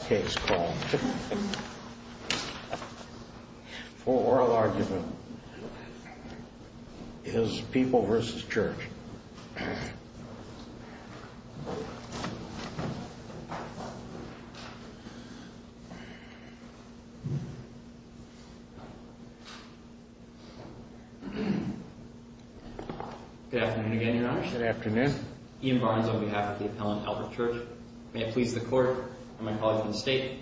Good afternoon, Your Honor. Good afternoon. Ian Barnes on behalf of the Appellant Albert Church. May it please the Court and my colleagues in the State.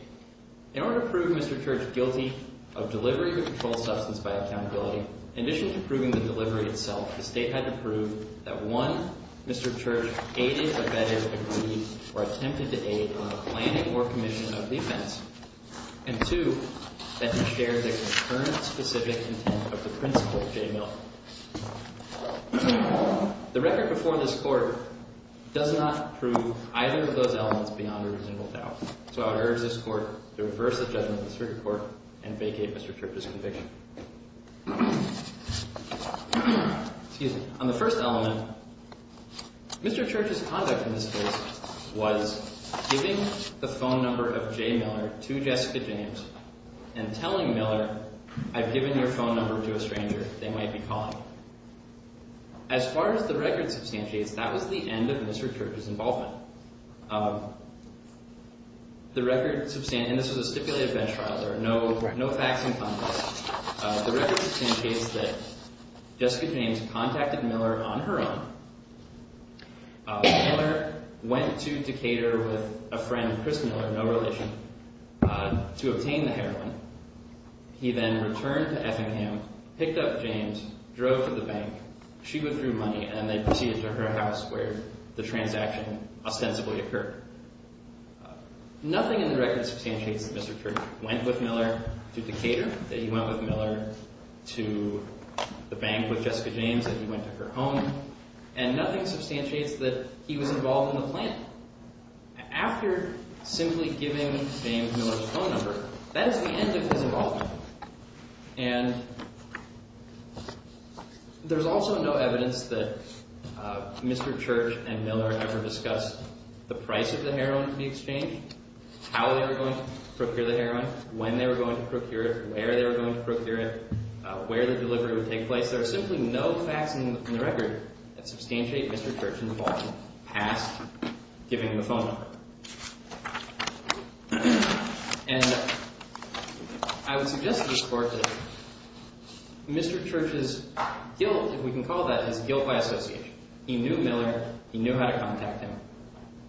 In order to prove Mr. Church guilty of delivery of a controlled substance by accountability, in addition to proving the delivery itself, the State had to prove that 1. Mr. Church aided, abetted, agreed, or attempted to aid on the planning or commission of the offense, and 2. That he shared the concurrent specific intent of the principal, J. Miller. The record before this Court does not prove either of those elements beyond a reasonable doubt. So I would urge this Court to reverse the judgment of the Supreme Court and vacate Mr. Church's conviction. Excuse me. On the first element, Mr. Church's conduct in this case was giving the phone number of J. Miller to Jessica James and telling Miller, I've given your phone number to a stranger they might be calling. As far as the record substantiates, that was the end of Mr. Church's involvement. The record substantiates, and this was a stipulated bench trial, there are no facts in context, the record substantiates that Jessica James contacted Miller on her own. Miller went to to cater with a friend, Chris Miller, no relation, to obtain the heroin. He then returned to Effingham, picked up James, drove to the bank, she withdrew money, and they proceeded to her house where the transaction ostensibly occurred. Nothing in the record substantiates that Mr. Church went with Miller to cater, that he went with Miller to the bank with Jessica James, that he went to her home, and nothing substantiates that he was involved in the plan. After simply giving James Miller his phone number, that is the end of his involvement. And there's also no evidence that Mr. Church and Miller ever discussed the price of the heroin at the exchange, how they were going to procure the heroin, when they were going to procure it, where they were going to procure it, where the delivery would take place. There are simply no facts in the record that substantiate Mr. Church's involvement past giving him the phone number. And I would suggest to this Court that Mr. Church's guilt, if we can call that, is guilt by association. He knew Miller, he knew how to contact him,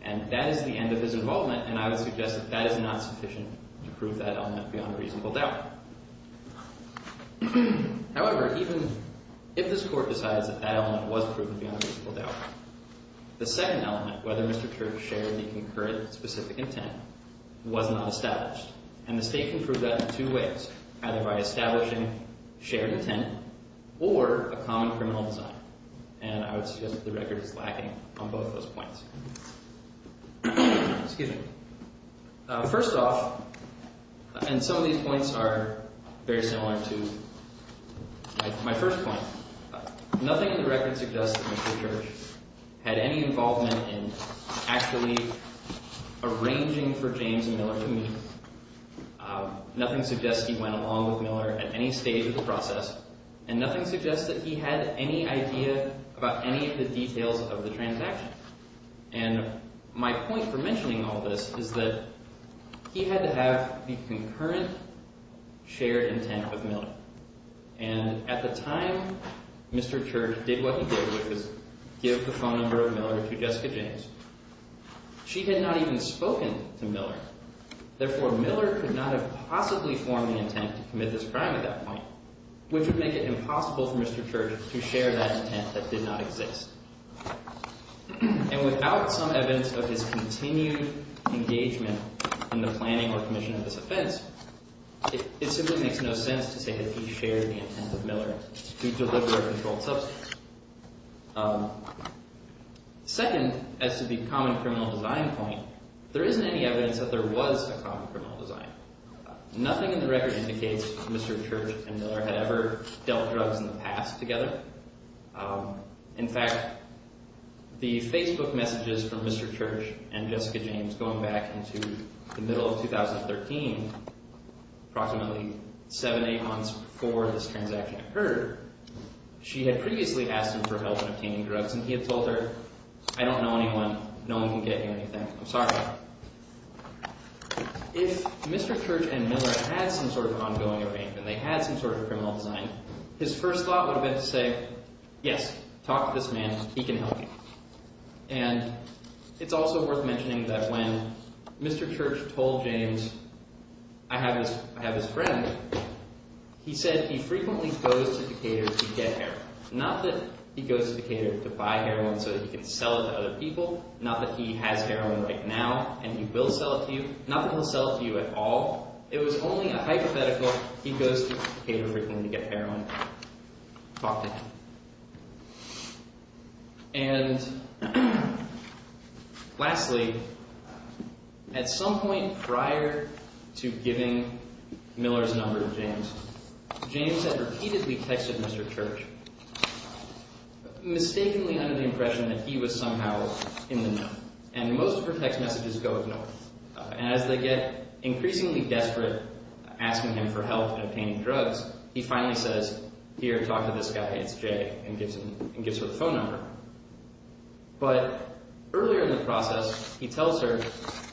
and that is the end of his involvement, and I would suggest that that is not sufficient to prove that element beyond a reasonable doubt. However, even if this Court decides that that element was proven beyond a reasonable doubt, the second element, whether Mr. Church shared the concurrent specific intent, was not established. And the State can prove that in two ways, either by establishing shared intent or a common criminal design. And I would suggest that the record is lacking on both those points. Excuse me. First off, and some of these points are very similar to my first point, nothing in the record suggests that Mr. Church had any involvement in actually arranging for James Miller to meet. Nothing suggests he went along with Miller at any stage of the process, and nothing suggests that he had any idea about any of the details of the transaction. And my point for mentioning all this is that he had to have the concurrent shared intent with Miller. And at the time, Mr. Church did what he did, which was give the phone number of Miller to Jessica James. She had not even spoken to Miller. Therefore, Miller could not have possibly formed the intent to commit this crime at that point, which would make it impossible for Mr. Church to share that intent that did not exist. And without some evidence of his continued engagement in the planning or commission of this offense, it simply makes no sense to say that he shared the intent of Miller to deliver a controlled substance. Second, as to the common criminal design point, there isn't any evidence that there was a common criminal design. Nothing in the record indicates Mr. Church and Miller had ever dealt drugs in the past together. In fact, the Facebook messages from Mr. Church and Jessica James going back into the middle of 2013, approximately seven, eight months before this transaction occurred, she had previously asked him for help in obtaining drugs, and he had told her, I don't know anyone. No one can get you anything. I'm sorry. If Mr. Church and Miller had some sort of ongoing arrangement, they had some sort of criminal design, his first thought would have been to say, yes, talk to this man. He can help you. And it's also worth mentioning that when Mr. Church told James, I have his friend, he said he frequently goes to Decatur to get heroin. Not that he goes to Decatur to buy heroin so that he can sell it to other people. Not that he has heroin right now and he will sell it to you. Not that he'll sell it to you at all. It was only a hypothetical, he goes to Decatur frequently to get heroin, talk to him. And lastly, at some point prior to giving Miller's number to James, James had repeatedly texted Mr. Church, mistakenly under the impression that he was somehow in the know. And most of her text messages go ignored. And as they get increasingly desperate asking him for help in obtaining drugs, he finally says, here, talk to this guy, it's Jay, and gives her the phone number. But earlier in the process, he tells her,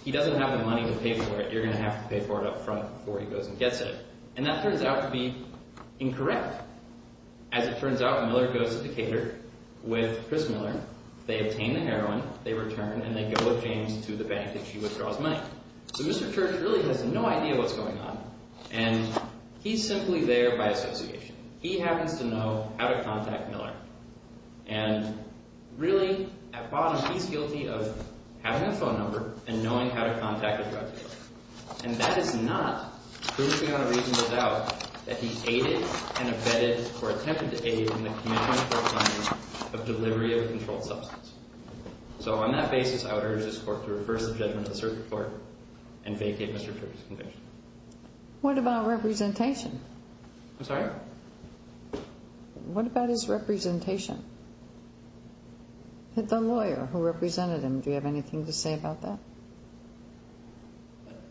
he doesn't have the money to pay for it, you're going to have to pay for it up front before he goes and gets it. And that turns out to be incorrect. As it turns out, Miller goes to Decatur with Chris Miller, they obtain the heroin, they return, and they go with James to the bank and she withdraws money. So Mr. Church really has no idea what's going on. And he's simply there by association. He happens to know how to contact Miller. And really, at bottom, he's guilty of having his phone number and knowing how to contact a drug dealer. And that is not proving on a reasonable doubt that he aided and abetted or attempted to aid in the commission of court findings of delivery of a controlled substance. So on that basis, I would urge this court to reverse the judgment of the circuit court and vacate Mr. Church's conviction. What about representation? I'm sorry? What about his representation? The lawyer who represented him, do you have anything to say about that?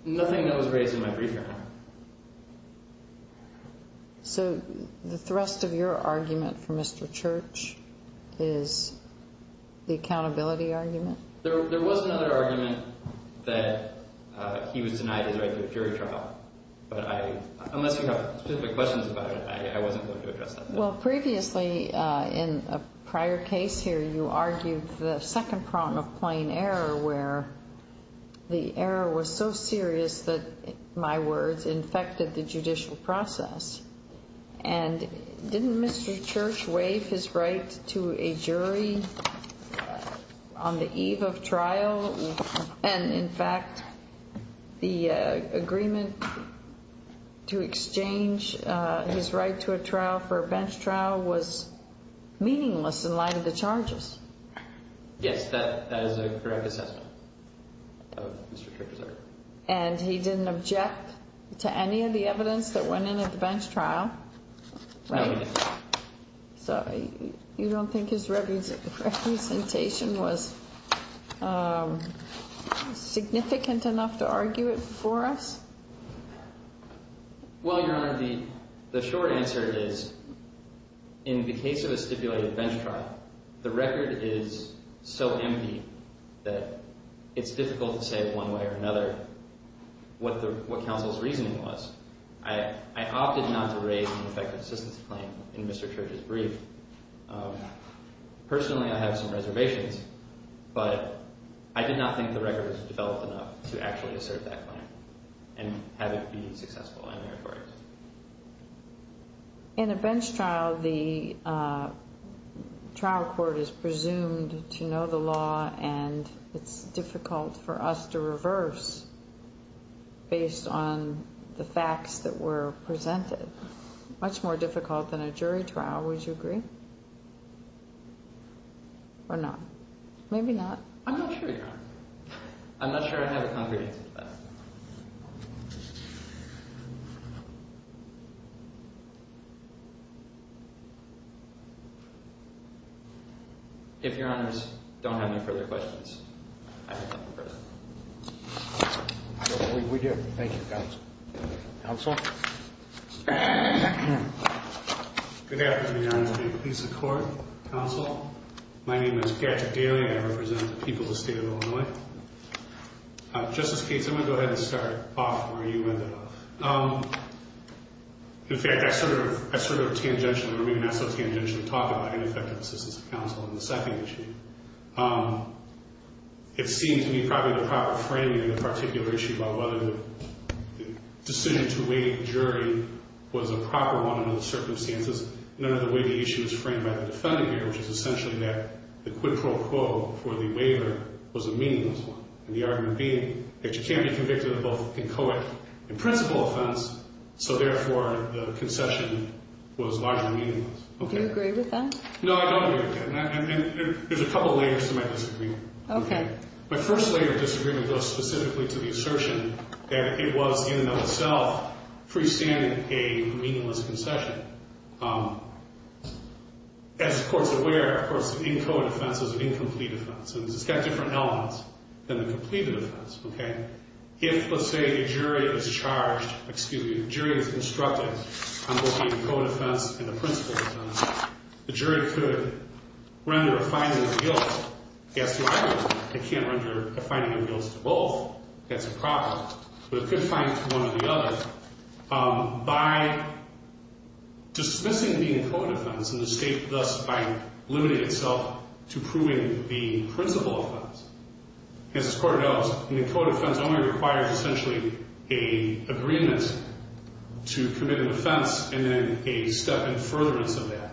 Nothing that was raised in my brief hearing. So the thrust of your argument for Mr. Church is the accountability argument? There was another argument that he was denied his right to a jury trial. But unless you have specific questions about it, I wasn't going to address that. Well, previously, in a prior case here, you argued the second problem of plain error, where the error was so serious that, in my words, infected the judicial process. And didn't Mr. Church waive his right to a jury on the eve of trial? And in fact, the agreement to exchange his right to a trial for a bench trial was meaningless in light of the charges. Yes, that is a correct assessment of Mr. Church's error. And he didn't object to any of the evidence that went in at the bench trial? No, he didn't. So you don't think his representation was significant enough to argue it for us? Well, Your Honor, the short answer is, in the case of a stipulated bench trial, the record is so empty that it's difficult to say one way or another what counsel's reasoning was. I opted not to raise an effective assistance claim in Mr. Church's brief. Personally, I have some reservations, but I did not think the record was developed enough to actually assert that claim and have it be successful in the records. In a bench trial, the trial court is presumed to know the law, and it's difficult for us to reverse based on the facts that were presented. Much more difficult than a jury trial, would you agree? Or not? Maybe not. I'm not sure, Your Honor. I'm not sure I have a concrete answer to that. If Your Honors don't have any further questions, I have no further. We do. Thank you, counsel. Counsel? Good afternoon, Your Honor. Please support counsel. My name is Gadget Daly. I represent the people of the state of Illinois. Justice Cates, I'm going to go ahead and start off where you ended up. In fact, I sort of tangentially, or maybe not so tangentially, talked about ineffective assistance to counsel in the second issue. It seemed to me probably the proper framing in the particular issue about whether the decision to waive the jury was a proper one under the circumstances, and under the way the issue is framed by the defendant here, which is essentially that the quid pro quo for the waiver was a meaningless one. And the argument being that you can't be convicted of both inchoate and principal offense, so therefore the concession was largely meaningless. Do you agree with that? No, I don't agree with that. And there's a couple layers to my disagreement. Okay. My first layer of disagreement goes specifically to the assertion that it was in and of itself freestanding a meaningless concession. As the court's aware, of course, the inchoate offense is an incomplete offense, and it's got different elements than the completed offense, okay? If, let's say, the jury is charged, excuse me, the jury is instructed on both the inchoate offense and the principal offense, the jury could render a finding of guilt. It can't render a finding of guilt to both. That's a problem. But it could find to one or the other. By dismissing the inchoate offense and the state thus by limiting itself to proving the principal offense, as this court knows, an inchoate offense only requires essentially an agreement to commit an offense and then a step in furtherance of that,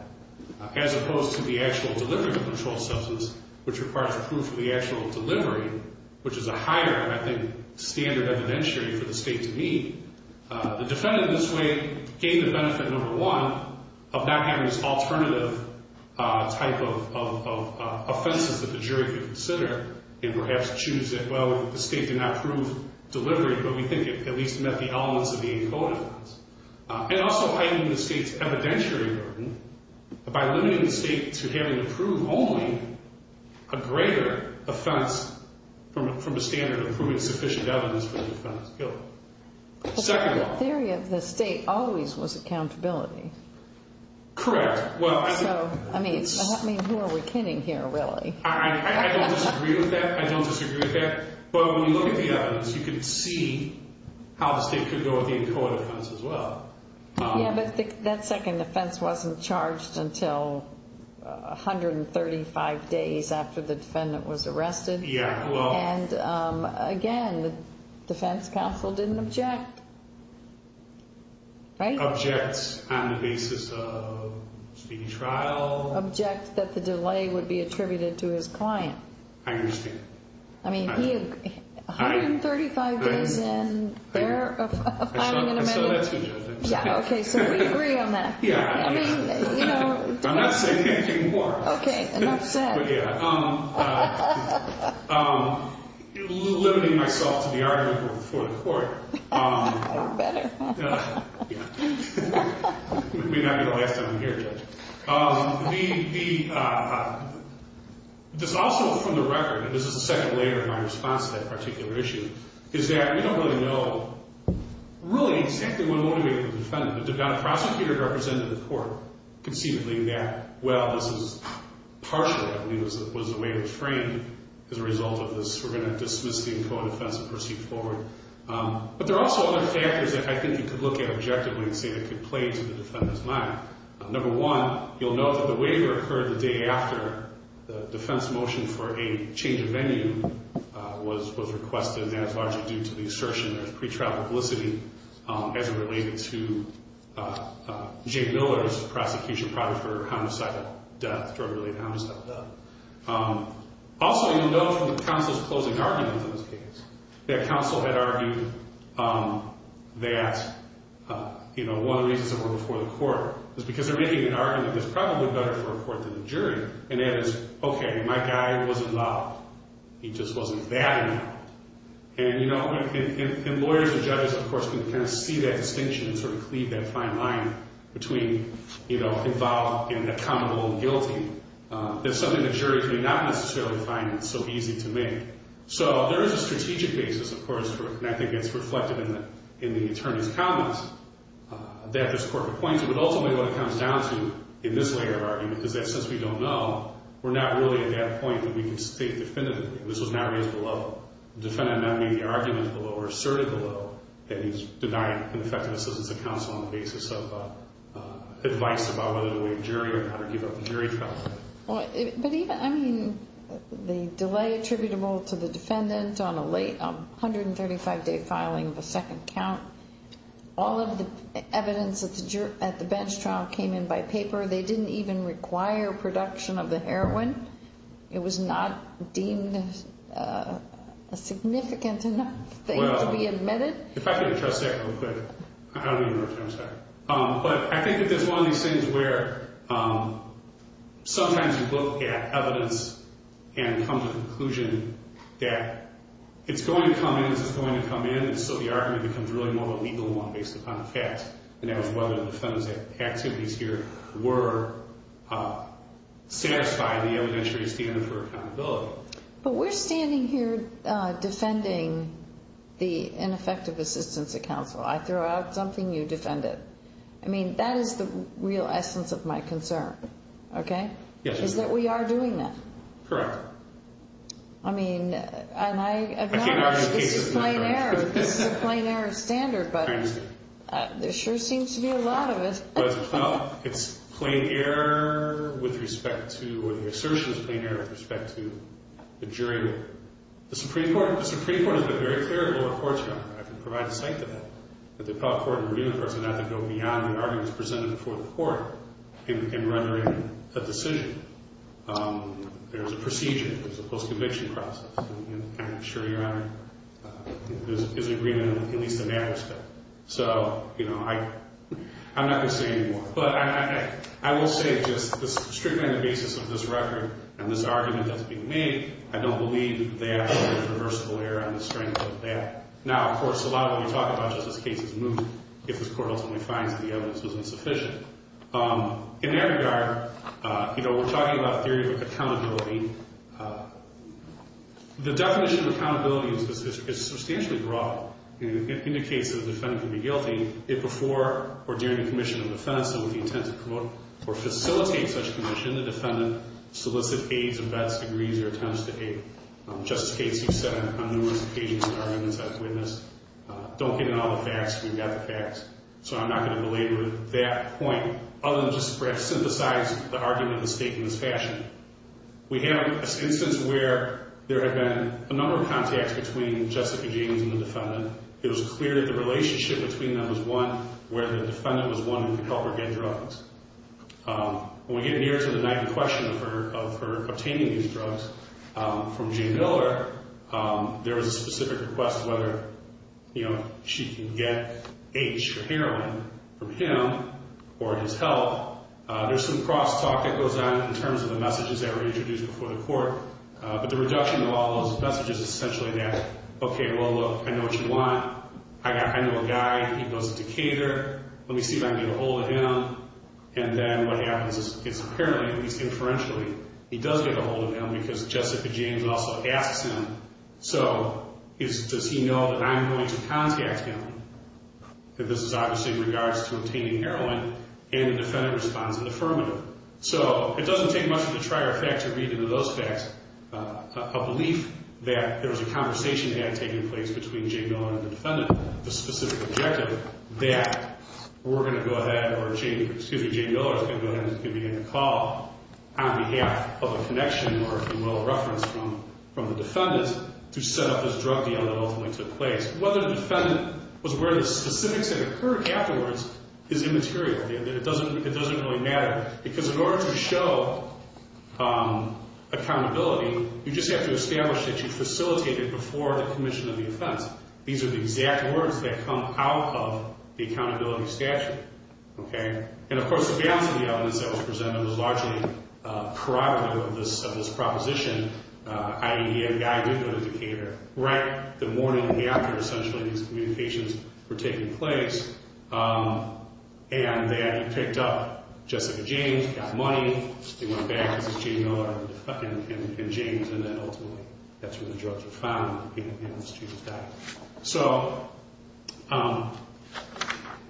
as opposed to the actual delivery of the controlled substance, which requires proof for the actual delivery, which is a higher, I think, standard evidentiary for the state to meet. The defendant in this way gained the benefit, number one, of not having this alternative type of offenses that the jury could consider and perhaps choose that, well, the state did not prove delivery, but we think it at least met the elements of the by limiting the state to having to prove only a greater offense from a standard of proving sufficient evidence for the defendant's guilt. But the theory of the state always was accountability. Correct. Well, I think... So, I mean, who are we kidding here, really? I don't disagree with that. I don't disagree with that. But when you look at the evidence, you can see how the state could go with the inchoate offense as well. Yeah, but that second offense wasn't charged until 135 days after the defendant was arrested. Yeah, well... And again, the defense counsel didn't object, right? Object on the basis of speaking trial... Object that the delay would be attributed to his client. I understand. I mean, 135 days in there of filing an amendment... Yeah, okay, so we agree on that. Yeah. I mean, you know... I'm not saying anything more. Okay, and that's that. But, yeah. Limiting myself to the argument before the court... Better. Yeah. We may not be the last time I'm here, Judge. The... This also, from the record, and this is the second layer in my response to that particular issue, is that we don't really know, really, exactly what motivated the defendant. The prosecutor represented the court conceivably that, well, this is partial, I believe, was the way it was framed as a result of this. We're going to dismiss the inchoate offense and proceed forward. But there are also other factors that I think you could look at objectively and say that could play into the defendant's mind. Number one, you'll note that the waiver occurred the day after the defense motion for a change of venue was requested, and that's largely due to the assertion of pre-trial publicity as it related to Jay Miller's prosecution, probably for homicidal death, drug-related homicidal death. Also, you'll note from the counsel's closing argument in this case, that counsel had argued that, you know, one of the reasons it went before the court is because they're making an argument that's probably better for a court than a jury, and that is, okay, my guy wasn't loud. He just wasn't bad enough. And, you know, and lawyers and judges, of course, can kind of see that distinction and sort of cleave that fine line between, you know, involved and accountable and guilty. That's something that juries may not necessarily find so easy to make. So there is a strategic basis, of course, and I think it's reflected in the attorney's comments that this court would point to, but ultimately what it comes down to in this layer of argument is that since we don't know, we're not really at that point that we can state definitively that this was not raised below. The defendant not made the argument below or asserted below that he's denied ineffective assistance of counsel on the basis of advice about whether to waive jury or not or give up the jury trial. But even, I mean, the delay attributable to the defendant on a late 135-day filing of a second count, all of the evidence at the bench trial came in by paper. They didn't even require production of the heroin. It was not deemed a significant enough thing to be admitted. Well, if I could address that real quick. I don't even know what time it's at. But I think that there's one of these things where sometimes you look at evidence and come to the conclusion that it's going to come in as it's going to come in, and so the argument becomes really more of a legal one based upon the fact that whether the defendant's activities here were satisfying the evidentiary standard for accountability. But we're standing here defending the ineffective assistance of counsel. I throw out something, you defend it. I mean, that is the real essence of my concern, okay, is that we are doing that. Correct. I mean, and I have not argued this is plain error. This is a plain error standard, but there sure seems to be a lot of it. Well, it's plain error with respect to, or the assertion is plain error with respect to the jury rule. The Supreme Court has been very favorable at courts, Your Honor. I can provide a site to that. But the Appellate Court and the Review of the Courts of An Act that go beyond the arguments presented before the court in rendering a decision. There's a procedure. There's a post-conviction process. And I'm sure, Your Honor, there's agreement, at least in that respect. So, you know, I'm not going to say anymore. But I will say just strictly on the basis of this record and this argument that's being made, I don't believe that there's reversible error on the strength of that. Now, of course, a lot of what we talk about just this case is moot. If this court ultimately finds the evidence was insufficient. In that regard, you know, we're talking about theory of accountability. The definition of accountability is substantially broad. It indicates that a defendant can be guilty if before or during a commission of defense and with the intent to promote or facilitate such commission, the defendant solicits, aids, or vets, agrees, or attempts to aid. Just as Casey said on numerous occasions in arguments I've witnessed, don't get in all the facts when you've got the facts. So I'm not going to belabor that point, other than just perhaps synthesize the argument of the state in this fashion. We have an instance where there have been a number of contacts between Jessica James and the defendant. It was clear that the relationship between them was one where the defendant was wanting to help her get drugs. When we get near to the knife in question of her obtaining these drugs from Jane Miller, there was a specific request whether, you know, she can get AIDS or heroin from him or his help. There's some cross-talk that goes on in terms of the messages that were introduced before the court. But the reduction of all those messages is essentially that, okay, well, look, I know what you want. I know a guy. He goes to cater. Let me see if I can get a hold of him. And then what happens is apparently, at least inferentially, he does get a hold of him because Jessica James also asks him, so does he know that I'm going to contact him? This is obviously in regards to obtaining heroin, and the defendant responds with affirmative. So it doesn't take much of a trier fact to read into those facts a belief that there was a conversation that had taken place between Jane Miller and the defendant with the specific objective that we're going to go ahead and convene a call on behalf of a connection or, if you will, a reference from the defendant to set up this drug deal that ultimately took place. Whether the defendant was aware of the specifics that occurred afterwards is immaterial. It doesn't really matter because in order to show accountability, you just have to establish that you facilitated before the commission of the offense. These are the exact words that come out of the accountability statute. And, of course, the balance of the evidence that was presented was largely a product of this proposition idea. The guy did go to cater right the morning after, essentially, these communications were taking place, and that he picked up Jessica James, got money, went back to see Jane Miller and James, and then ultimately that's where the drugs were found and the statute was done. So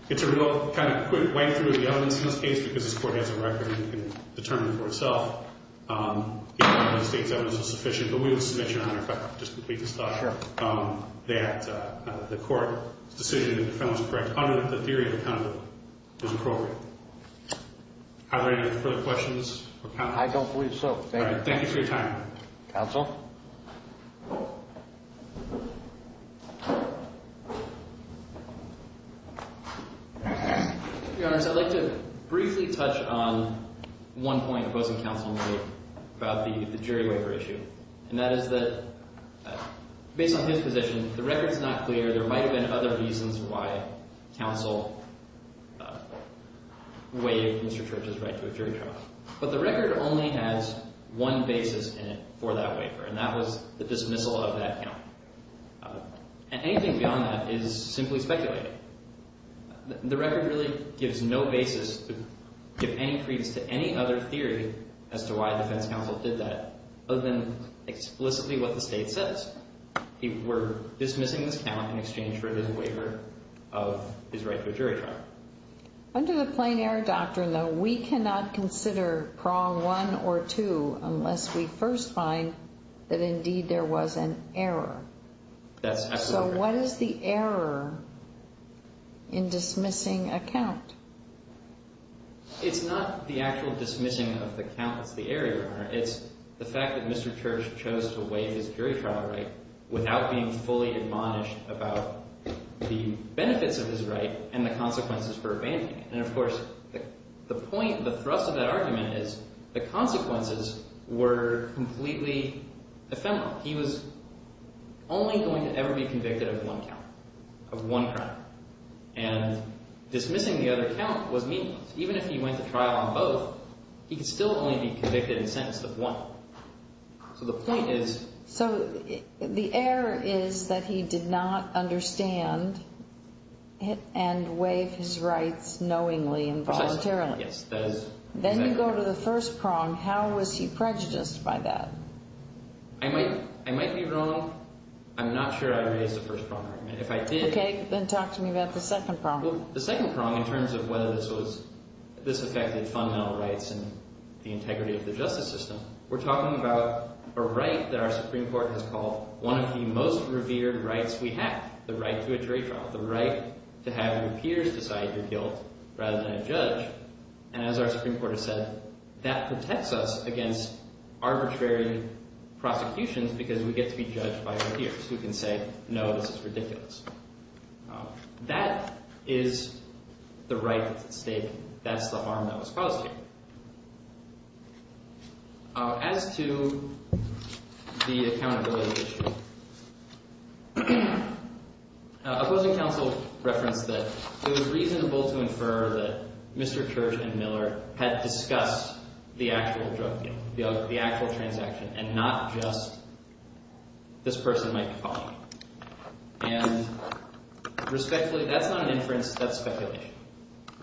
it's a real kind of quick way through the evidence in this case because this court has a record and can determine for itself if the state's evidence is sufficient. But we would submit, Your Honor, if I could just complete this thought, that the court's decision that the felon was correct under the theory of accountability is appropriate. Are there any further questions or comments? I don't believe so. Thank you. Thank you for your time. Counsel? Your Honors, I'd like to briefly touch on one point opposing counsel made about the jury waiver issue, and that is that based on his position, the record's not clear. There might have been other reasons why counsel waived Mr. Church's right to a jury trial. But the record only has one basis in it for that waiver, and that was the dismissal of that count. And anything beyond that is simply speculating. The record really gives no basis to give any credence to any other theory as to why the defense counsel did that other than explicitly what the state says. We're dismissing this count in exchange for the waiver of his right to a jury trial. Under the plain error doctrine, though, we cannot consider prong one or two unless we first find that, indeed, there was an error. That's absolutely correct. So what is the error in dismissing a count? It's not the actual dismissing of the count that's the error, Your Honor. It's the fact that Mr. Church chose to waive his jury trial right without being fully admonished about the benefits of his right and the consequences for abandoning it. And, of course, the thrust of that argument is the consequences were completely ephemeral. He was only going to ever be convicted of one count, of one crime. And dismissing the other count was meaningless. Even if he went to trial on both, he could still only be convicted and sentenced with one. So the point is... So the error is that he did not understand and waive his rights knowingly and voluntarily. Yes. Then you go to the first prong. How was he prejudiced by that? I might be wrong. I'm not sure I raised the first prong. Okay. Then talk to me about the second prong. The second prong, in terms of whether this affected fundamental rights and the integrity of the justice system, we're talking about a right that our Supreme Court has called one of the most revered rights we have, the right to a jury trial, the right to have your peers decide your guilt rather than a judge. And as our Supreme Court has said, that protects us against arbitrary prosecutions because we get to be judged by our peers. We can say, no, this is ridiculous. That is the right that's at stake. That's the harm that was caused here. As to the accountability issue, opposing counsel referenced that it was reasonable to infer that Mr. Church and Miller had discussed the actual drug deal, the actual transaction, and not just this person might be caught. And respectfully, that's not an inference. That's speculation.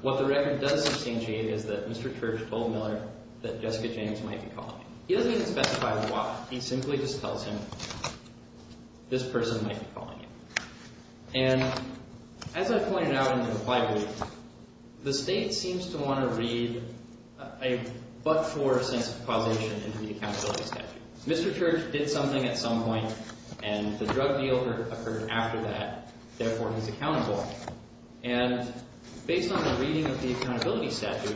What the record does substantiate is that Mr. Church told Miller that Jessica James might be caught. He doesn't even specify why. He simply just tells him this person might be caught. And as I pointed out in the reply brief, the state seems to want to read a but-for sense of causation into the accountability statute. Mr. Church did something at some point, and the drug deal occurred after that. Therefore, he's accountable. And based on the reading of the accountability statute,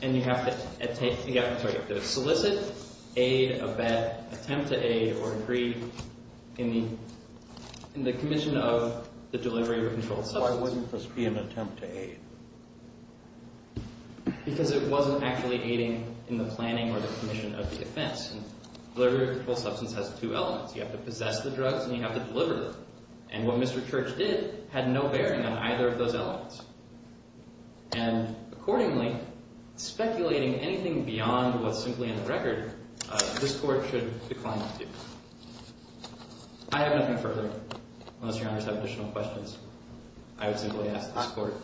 and you have to solicit, aid, abet, attempt to aid, or agree in the commission of the delivery of a controlled substance. Why wouldn't this be an attempt to aid? Because it wasn't actually aiding in the planning or the commission of the offense. Delivery of a controlled substance has two elements. You have to possess the drugs, and you have to deliver them. And what Mr. Church did had no bearing on either of those elements. And accordingly, speculating anything beyond what's simply in the record, this Court should decline to do. I have nothing further, unless Your Honors have additional questions. I would simply ask that this Court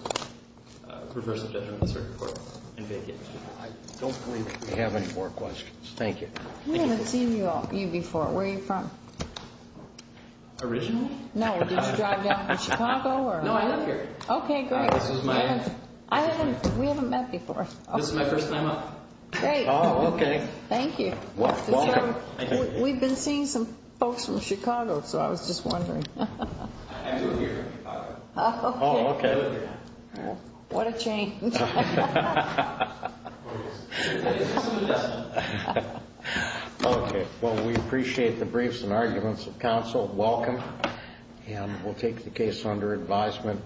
reverse the judgment of the circuit court and vacate. I don't believe we have any more questions. Thank you. We haven't seen you before. Where are you from? Originally? No, did you drive down from Chicago? No, I live here. Okay, great. This is my aunt. We haven't met before. This is my first time up. Great. Oh, okay. Thank you. You're welcome. We've been seeing some folks from Chicago, so I was just wondering. I do live here in Chicago. Oh, okay. I live here. What a change. Okay. Well, we appreciate the briefs and arguments of counsel. Welcome. And we'll take the case under advisement.